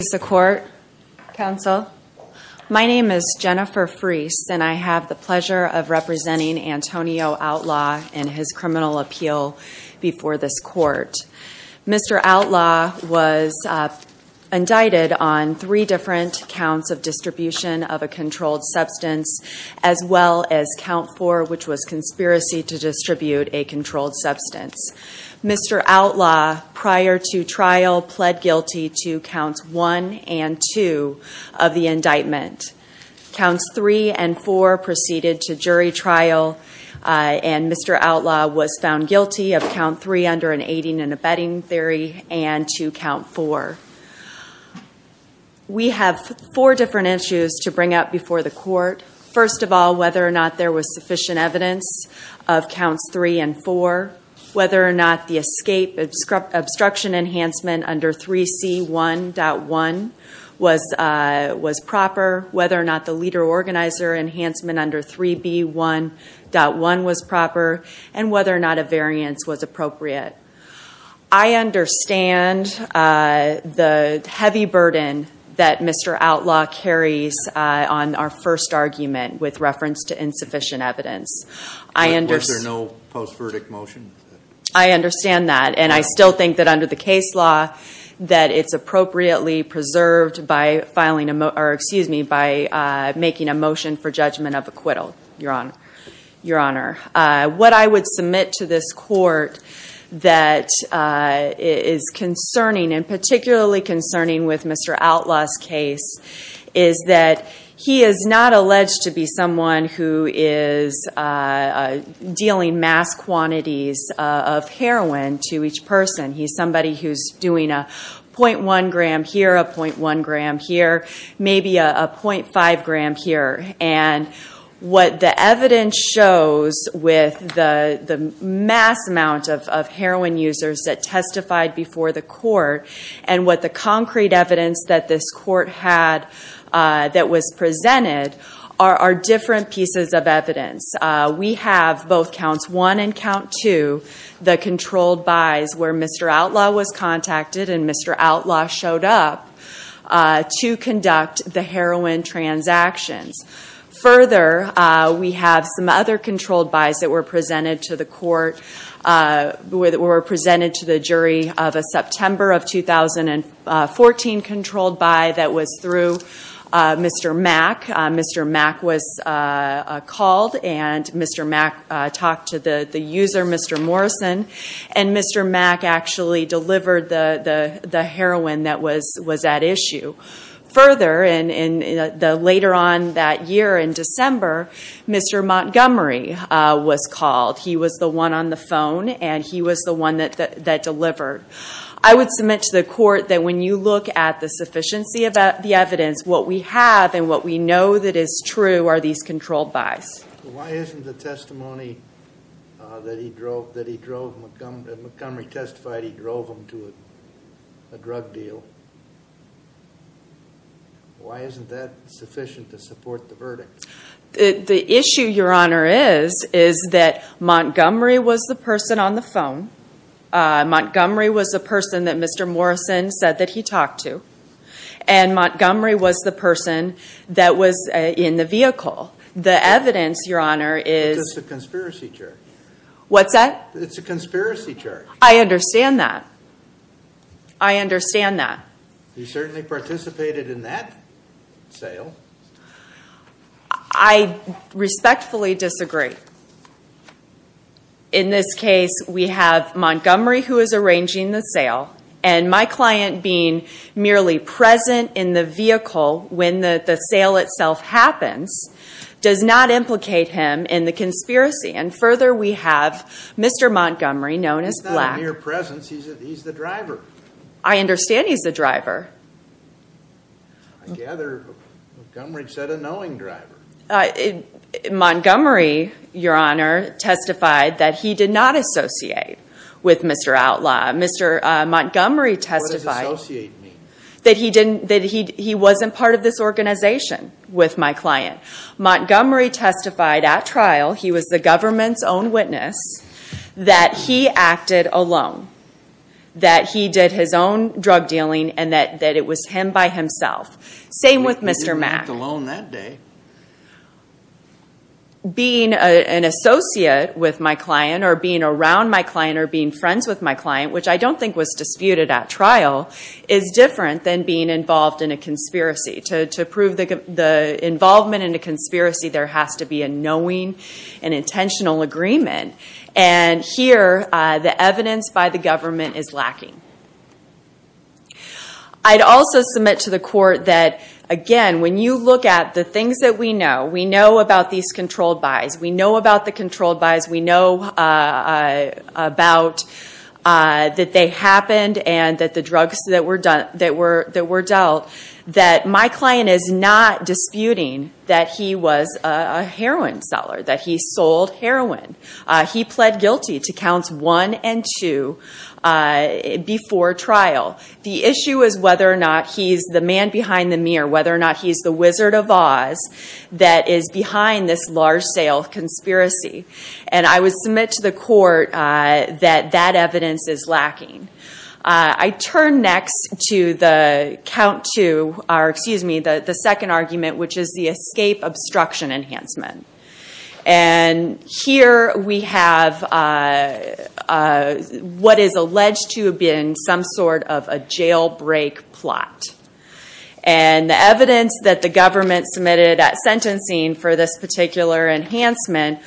Mr. Court, Counsel, my name is Jennifer Freese and I have the pleasure of representing Antonio Outlaw in his criminal appeal before this court. Mr. Outlaw was indicted on three different counts of distribution of a controlled substance as well as count four which was conspiracy to distribute a controlled substance. Mr. Outlaw, prior to trial, pled guilty to counts one and two of the indictment. Counts three and four proceeded to jury trial and Mr. Outlaw was found guilty of count three under an aiding and abetting theory and to count four. We have four different issues to bring up before the court. First of all, whether or not there was sufficient evidence of counts three and four. Whether or not the escape obstruction enhancement under 3C1.1 was proper. Whether or not the leader organizer enhancement under 3B1.1 was proper. And whether or not a variance was appropriate. I understand the heavy burden that Mr. Outlaw carries on our first argument with reference to insufficient evidence. I understand that and I still think that under the case law that it's appropriately preserved by filing a, or excuse me, by making a motion for judgment of acquittal, your honor. Your honor, what I would submit to this court that is concerning and particularly concerning with Mr. Outlaw's case is that he is not alleged to be someone who is dealing mass quantities of heroin to each person. He's somebody who's doing a 0.1 gram here, a 0.1 gram here, maybe a 0.5 gram here. And what the evidence shows with the mass amount of heroin users that testified before the court. And what the concrete evidence that this court had that was presented are different pieces of evidence. We have both counts one and count two, the controlled buys where Mr. Outlaw showed up to conduct the heroin transactions. Further, we have some other controlled buys that were presented to the court, were presented to the jury of a September of 2014 controlled buy that was through Mr. Mack. Mr. Mack was called and Mr. Mack talked to the user, Mr. Morrison. And Mr. Mack actually delivered the heroin that was at issue. Further, later on that year in December, Mr. Montgomery was called. He was the one on the phone and he was the one that delivered. I would submit to the court that when you look at the sufficiency of the evidence, what we have and what we know that is true are these controlled buys. Why isn't the testimony that Montgomery testified, he drove him to a drug deal. Why isn't that sufficient to support the verdict? The issue, your honor, is that Montgomery was the person on the phone. Montgomery was the person that Mr. Morrison said that he talked to. And Montgomery was the person that was in the vehicle. The evidence, your honor, is- It's a conspiracy charge. What's that? It's a conspiracy charge. I understand that. I understand that. He certainly participated in that sale. I respectfully disagree. In this case, we have Montgomery who is arranging the sale. And my client being merely present in the vehicle when the sale itself happens, does not implicate him in the conspiracy. And further, we have Mr. Montgomery, known as Black. He's not a mere presence, he's the driver. I understand he's the driver. I gather Montgomery said a knowing driver. Montgomery, your honor, testified that he did not associate with Mr. Outlaw. Mr. Montgomery testified- What does associate mean? That he wasn't part of this organization with my client. Montgomery testified at trial, he was the government's own witness, that he acted alone, that he did his own drug dealing, and that it was him by himself. Same with Mr. Mack. He didn't act alone that day. Being an associate with my client, or being around my client, or which I don't think was disputed at trial, is different than being involved in a conspiracy. To prove the involvement in a conspiracy, there has to be a knowing and intentional agreement. And here, the evidence by the government is lacking. I'd also submit to the court that, again, when you look at the things that we know, we know about these controlled buys, we know about the controlled buys, we know about that they happened, and that the drugs that were dealt, that my client is not disputing that he was a heroin seller, that he sold heroin. He pled guilty to counts one and two before trial. The issue is whether or not he's the man behind the mirror, whether or not he's the Wizard of Oz, that is behind this large sale conspiracy. And I would submit to the court that that evidence is lacking. I turn next to the count two, or excuse me, the second argument, which is the escape obstruction enhancement. And here we have what is alleged to have been some sort of a jailbreak plot. And the evidence that the government submitted at sentencing for this particular enhancement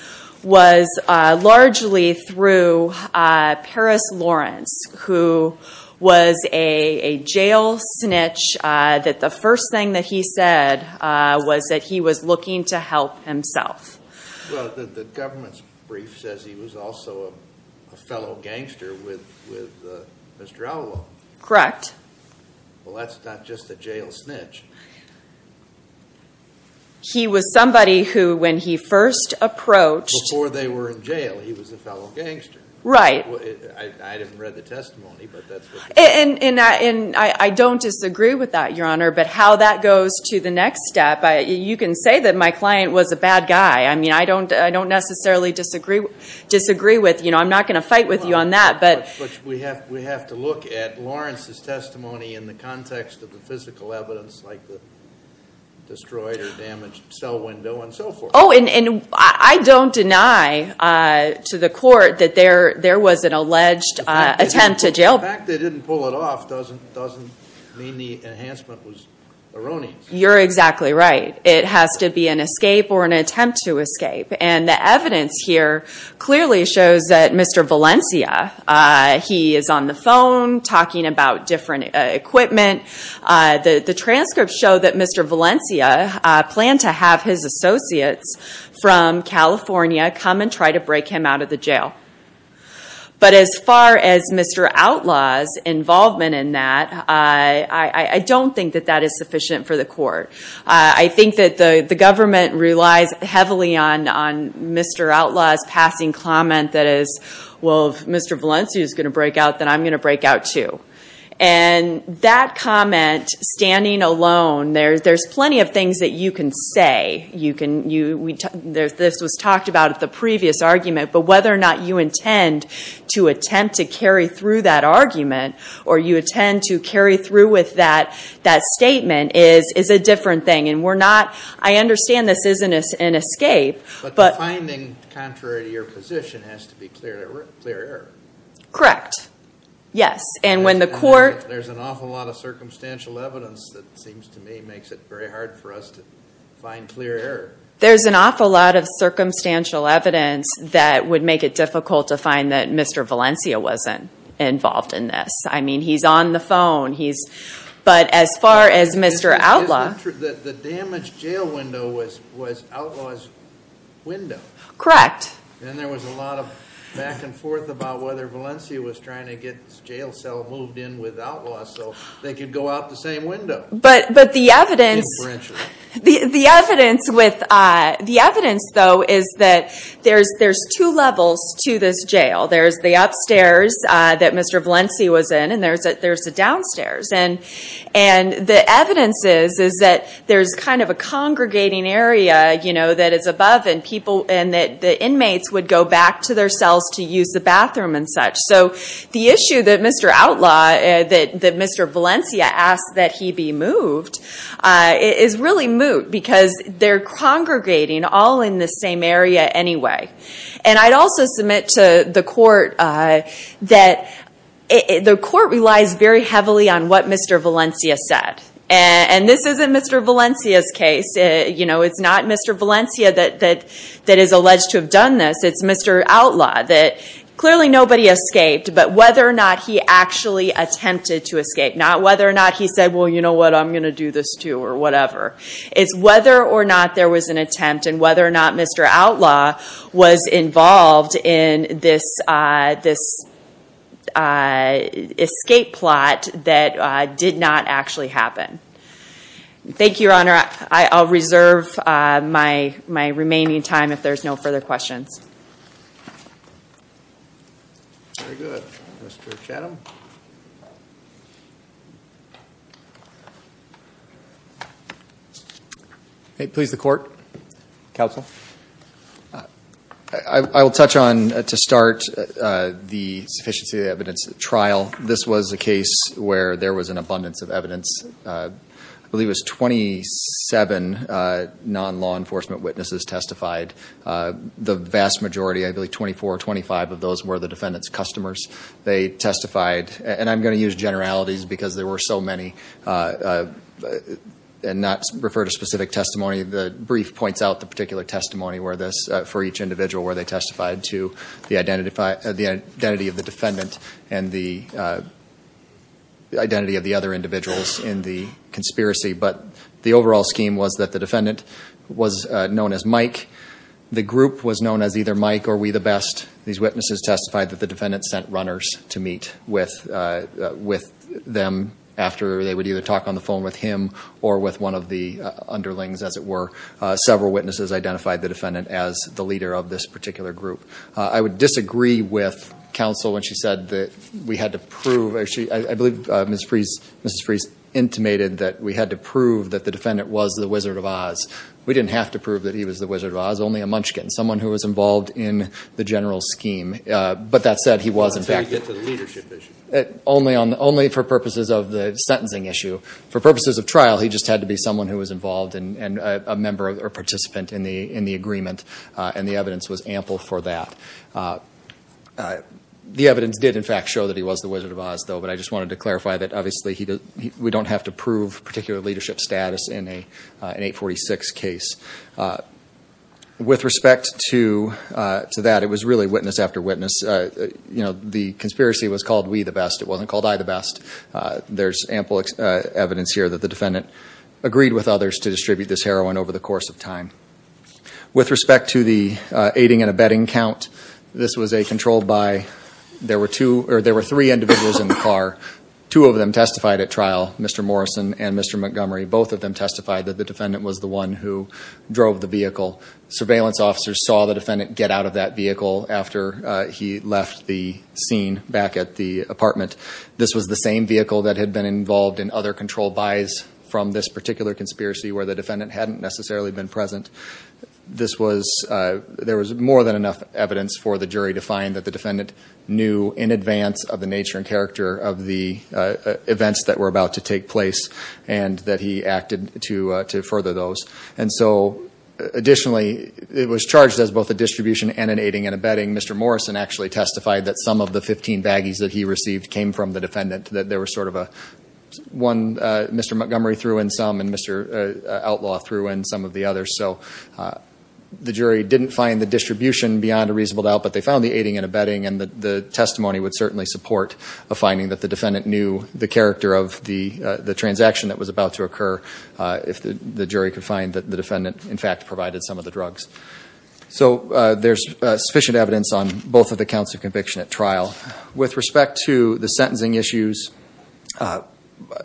was largely through Paris Lawrence, who was a jail snitch, that the first thing that he said was that he was looking to help himself. Well, the government's brief says he was also a fellow gangster with Mr. Alwo. Correct. Well, that's not just a jail snitch. He was somebody who, when he first approached- Before they were in jail, he was a fellow gangster. Right. I haven't read the testimony, but that's what- And I don't disagree with that, Your Honor. But how that goes to the next step, you can say that my client was a bad guy. I mean, I don't necessarily disagree with, you know, I'm not going to fight with you on that, but- We have to look at Lawrence's testimony in the context of the physical evidence, like the destroyed or damaged cell window and so forth. And I don't deny to the court that there was an alleged attempt to jail- The fact they didn't pull it off doesn't mean the enhancement was erroneous. You're exactly right. It has to be an escape or an attempt to escape. And the evidence here clearly shows that Mr. Valencia, he is on the phone talking about different equipment. The transcripts show that Mr. Valencia planned to have his associates from California come and try to break him out of the jail. But as far as Mr. Outlaw's involvement in that, I don't think that that is sufficient for the court. I think that the government relies heavily on Mr. Outlaw's passing comment that is, well, if Mr. Valencia is going to break out, then I'm going to break out too. And that comment, standing alone, there's plenty of things that you can say. This was talked about at the previous argument, but whether or not you intend to attempt to carry through that argument, or you intend to carry through with that statement is a different thing. And we're not, I understand this isn't an escape, but- But the finding, contrary to your position, has to be clear error. Correct. Yes. And when the court- There's an awful lot of circumstantial evidence that seems to me makes it very hard for us to find clear error. There's an awful lot of circumstantial evidence that would make it difficult to find that Mr. Valencia wasn't involved in this. I mean, he's on the phone, he's- But as far as Mr. Outlaw- It's not true that the damaged jail window was Outlaw's window. Correct. And there was a lot of back and forth about whether Valencia was trying to get the jail cell moved in with Outlaw, so they could go out the same window. But the evidence- Yeah, we're interested. The evidence though is that there's two levels to this jail. There's the upstairs that Mr. Valencia was in, and there's the downstairs. And the evidence is that there's kind of a congregating area that is above, and the inmates would go back to their cells to use the bathroom and such. So the issue that Mr. Valencia asked that he be moved is really moot, because they're congregating all in the same area anyway. And I'd also submit to the court that the court relies very heavily on what Mr. Valencia said. And this isn't Mr. Valencia's case. You know, it's not Mr. Valencia that is alleged to have done this. It's Mr. Outlaw, that clearly nobody escaped, but whether or not he actually attempted to escape. Not whether or not he said, well, you know what, I'm going to do this too, or whatever. It's whether or not there was an attempt, and whether or not Mr. Outlaw was involved in this escape plot that did not actually happen. Thank you, Your Honor. I'll reserve my remaining time if there's no further questions. Very good. Mr. Chatham? Please, the court. Counsel. I will touch on, to start, the sufficiency of the evidence trial. This was a case where there was an abundance of evidence. I believe it was 27 non-law enforcement witnesses testified. The vast majority, I believe 24 or 25 of those were the defendant's customers. They testified, and I'm going to use generalities because there were so many, and not refer to specific testimony. The brief points out the particular testimony for each individual where they testified to the identity of the defendant. And the identity of the other individuals in the conspiracy. But the overall scheme was that the defendant was known as Mike. The group was known as either Mike or We The Best. These witnesses testified that the defendant sent runners to meet with them after they would either talk on the phone with him or with one of the underlings, as it were. Several witnesses identified the defendant as the leader of this particular group. I would disagree with counsel when she said that we had to prove, I believe Mrs. Freese intimated that we had to prove that the defendant was the Wizard of Oz. We didn't have to prove that he was the Wizard of Oz, only a munchkin, someone who was involved in the general scheme. But that said, he wasn't. So he didn't get to the leadership issue? Only for purposes of the sentencing issue. For purposes of trial, he just had to be someone who was involved and a member or participant in the agreement. And the evidence was ample for that. The evidence did in fact show that he was the Wizard of Oz, though. But I just wanted to clarify that obviously we don't have to prove particular leadership status in an 846 case. With respect to that, it was really witness after witness. The conspiracy was called We The Best, it wasn't called I The Best. There's ample evidence here that the defendant agreed with others to distribute this heroin over the course of time. With respect to the aiding and abetting count, this was a controlled buy. There were three individuals in the car. Two of them testified at trial, Mr. Morrison and Mr. Montgomery. Both of them testified that the defendant was the one who drove the vehicle. Surveillance officers saw the defendant get out of that vehicle after he left the scene back at the apartment. This was the same vehicle that had been involved in other control buys from this particular conspiracy where the defendant hadn't necessarily been present. There was more than enough evidence for the jury to find that the defendant knew in advance of the nature and character of the events that were about to take place and that he acted to further those. And so, additionally, it was charged as both a distribution and an aiding and abetting. Mr. Morrison actually testified that some of the 15 baggies that he received came from the defendant. That there was sort of a, one Mr. Montgomery threw in some and Mr. Outlaw threw in some of the others. So the jury didn't find the distribution beyond a reasonable doubt, but they found the aiding and abetting. And the testimony would certainly support a finding that the defendant knew the character of the transaction that was about to occur. If the jury could find that the defendant, in fact, provided some of the drugs. So there's sufficient evidence on both of the counts of conviction at trial. With respect to the sentencing issues,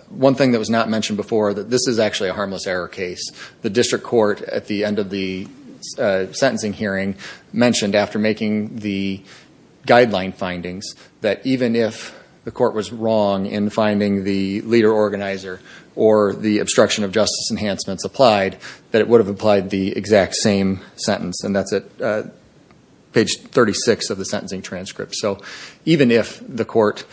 one thing that was not mentioned before, that this is actually a harmless error case. The district court, at the end of the sentencing hearing, mentioned after making the guideline findings that even if the court was wrong in finding the leader organizer or the obstruction of justice enhancements applied, that it would have applied the exact same sentence. And that's at page 36 of the sentencing transcript. So even if the court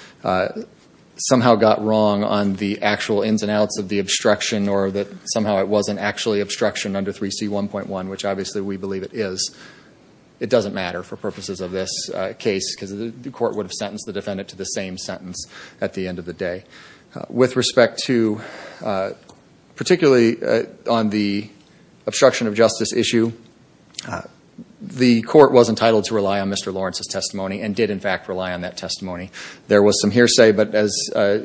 somehow got wrong on the actual ins and outs of the obstruction, or that somehow it wasn't actually obstruction under 3C1.1, which obviously we believe it is. It doesn't matter for purposes of this case, because the court would have sentenced the defendant to the same sentence at the end of the day. With respect to, particularly on the obstruction of justice issue, the court was entitled to rely on Mr. Lawrence's testimony, and did in fact rely on that testimony. There was some hearsay, but as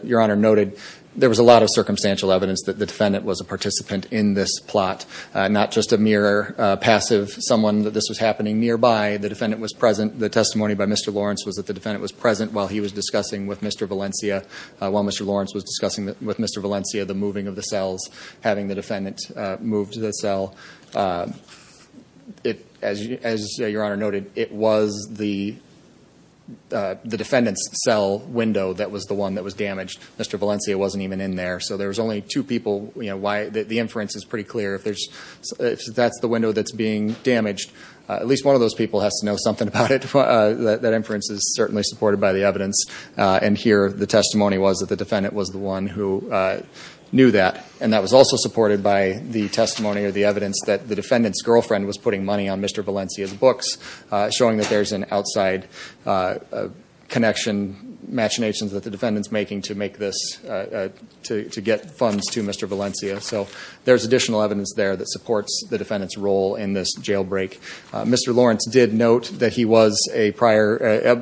Your Honor noted, there was a lot of circumstantial evidence that the defendant was a participant in this plot. Not just a mere passive, someone that this was happening nearby, the defendant was present. The testimony by Mr. Lawrence was that the defendant was present while he was discussing with Mr. Valencia. While Mr. Lawrence was discussing with Mr. Valencia the moving of the cells, having the defendant move to the cell. As Your Honor noted, it was the defendant's cell window that was the one that was damaged. Mr. Valencia wasn't even in there. So there was only two people, the inference is pretty clear. If that's the window that's being damaged, at least one of those people has to know something about it. That inference is certainly supported by the evidence. And here, the testimony was that the defendant was the one who knew that. And that was also supported by the testimony or the evidence that the defendant's girlfriend was putting money on Mr. Valencia's books. Showing that there's an outside connection, machinations that the defendant's making to make this, to get funds to Mr. Valencia. So there's additional evidence there that supports the defendant's role in this jailbreak. Mr. Lawrence did note that he was a prior,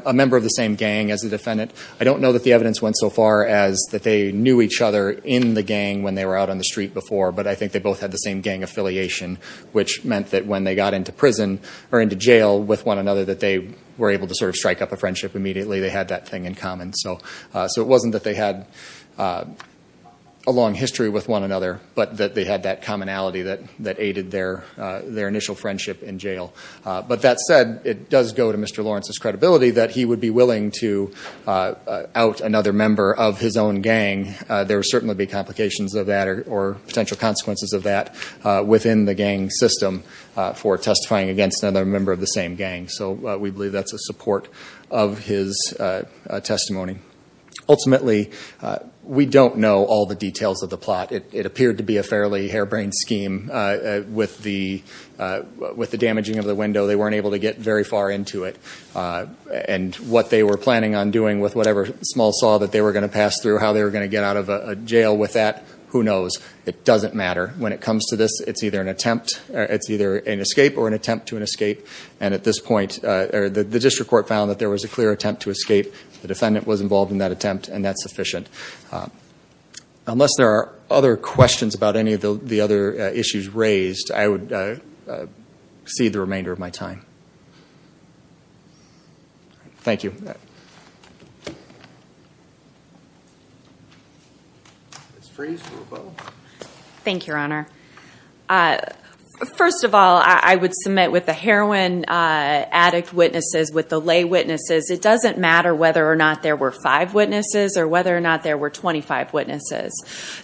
a member of the same gang as the defendant. I don't know that the evidence went so far as that they knew each other in the gang when they were out on the street before. But I think they both had the same gang affiliation, which meant that when they got into prison or into jail with one another that they were able to sort of strike up a friendship immediately. They had that thing in common. So it wasn't that they had a long history with one another, but that they had that commonality that aided their initial friendship in jail. But that said, it does go to Mr. Lawrence's credibility that he would be willing to out another member of his own gang. There would certainly be complications of that or potential consequences of that within the gang system for testifying against another member of the same gang, so we believe that's a support of his testimony. Ultimately, we don't know all the details of the plot. It appeared to be a fairly harebrained scheme with the damaging of the window. They weren't able to get very far into it. And what they were planning on doing with whatever small saw that they were going to pass through, how they were going to get out of jail with that, who knows? It doesn't matter. When it comes to this, it's either an attempt, it's either an escape or an attempt to an escape. And at this point, the district court found that there was a clear attempt to escape. The defendant was involved in that attempt and that's sufficient. Unless there are other questions about any of the other issues raised, I would cede the remainder of my time. Thank you. Ms. Freeze or Bo? Thank you, Your Honor. First of all, I would submit with the heroin addict witnesses, with the lay witnesses, it doesn't matter whether or not there were five witnesses or whether or not there were 25 witnesses.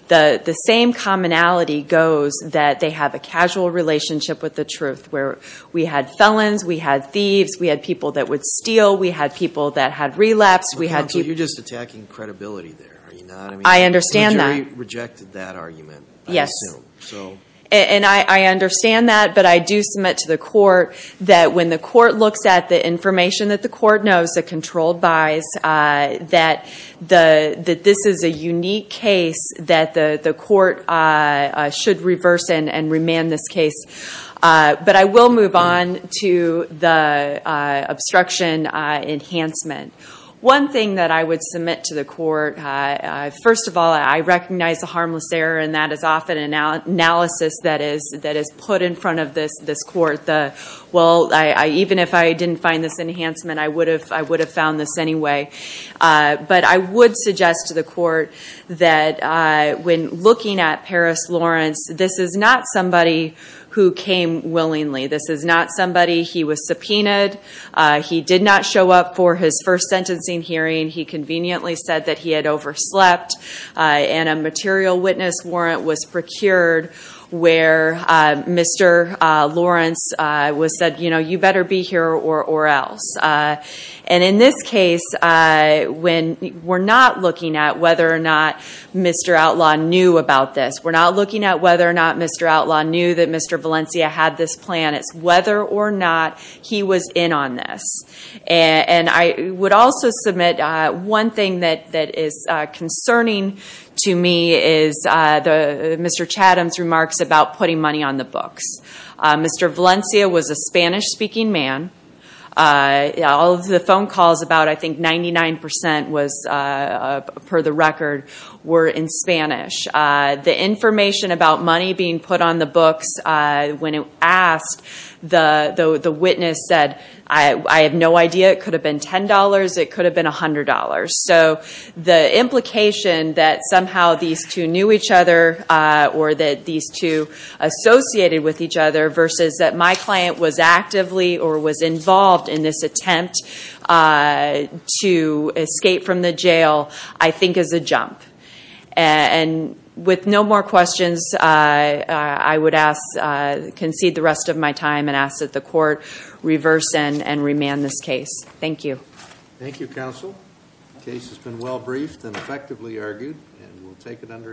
The same commonality goes that they have a casual relationship with the truth, where we had felons, we had thieves, we had people that would steal, we had people that had relapsed, we had- So you're just attacking credibility there, are you not? I understand that. The jury rejected that argument, I assume. Yes, and I understand that, but I do submit to the court that when the court looks at the information that the court knows, the controlled buys, that this is a unique case that the court should reverse and remand this case. But I will move on to the obstruction enhancement. One thing that I would submit to the court, first of all, I recognize the harmless error, and that is often an analysis that is put in front of this court. Well, even if I didn't find this enhancement, I would have found this anyway. But I would suggest to the court that when looking at Paris Lawrence, this is not somebody who came willingly, this is not somebody, he was subpoenaed. He did not show up for his first sentencing hearing. He conveniently said that he had overslept, and a material witness warrant was procured where Mr. Lawrence was said, you better be here or else. And in this case, we're not looking at whether or not Mr. Outlaw knew about this, we're not looking at whether or not Mr. Outlaw knew that Mr. Valencia had this plan, it's whether or not he was in on this. And I would also submit one thing that is concerning to me is Mr. Chatham's remarks about putting money on the books. Mr. Valencia was a Spanish-speaking man, all of the phone calls, about I think 99% was, per the record, were in Spanish. The information about money being put on the books, when asked, the witness said, I have no idea, it could have been $10, it could have been $100. So the implication that somehow these two knew each other or that these two associated with each other versus that my client was actively or was involved in this attempt to escape from the jail, I think is a jump. And with no more questions, I would concede the rest of my time and ask that the court reverse and remand this case. Thank you. Thank you, counsel. Case has been well briefed and effectively argued and we'll take it under advisement.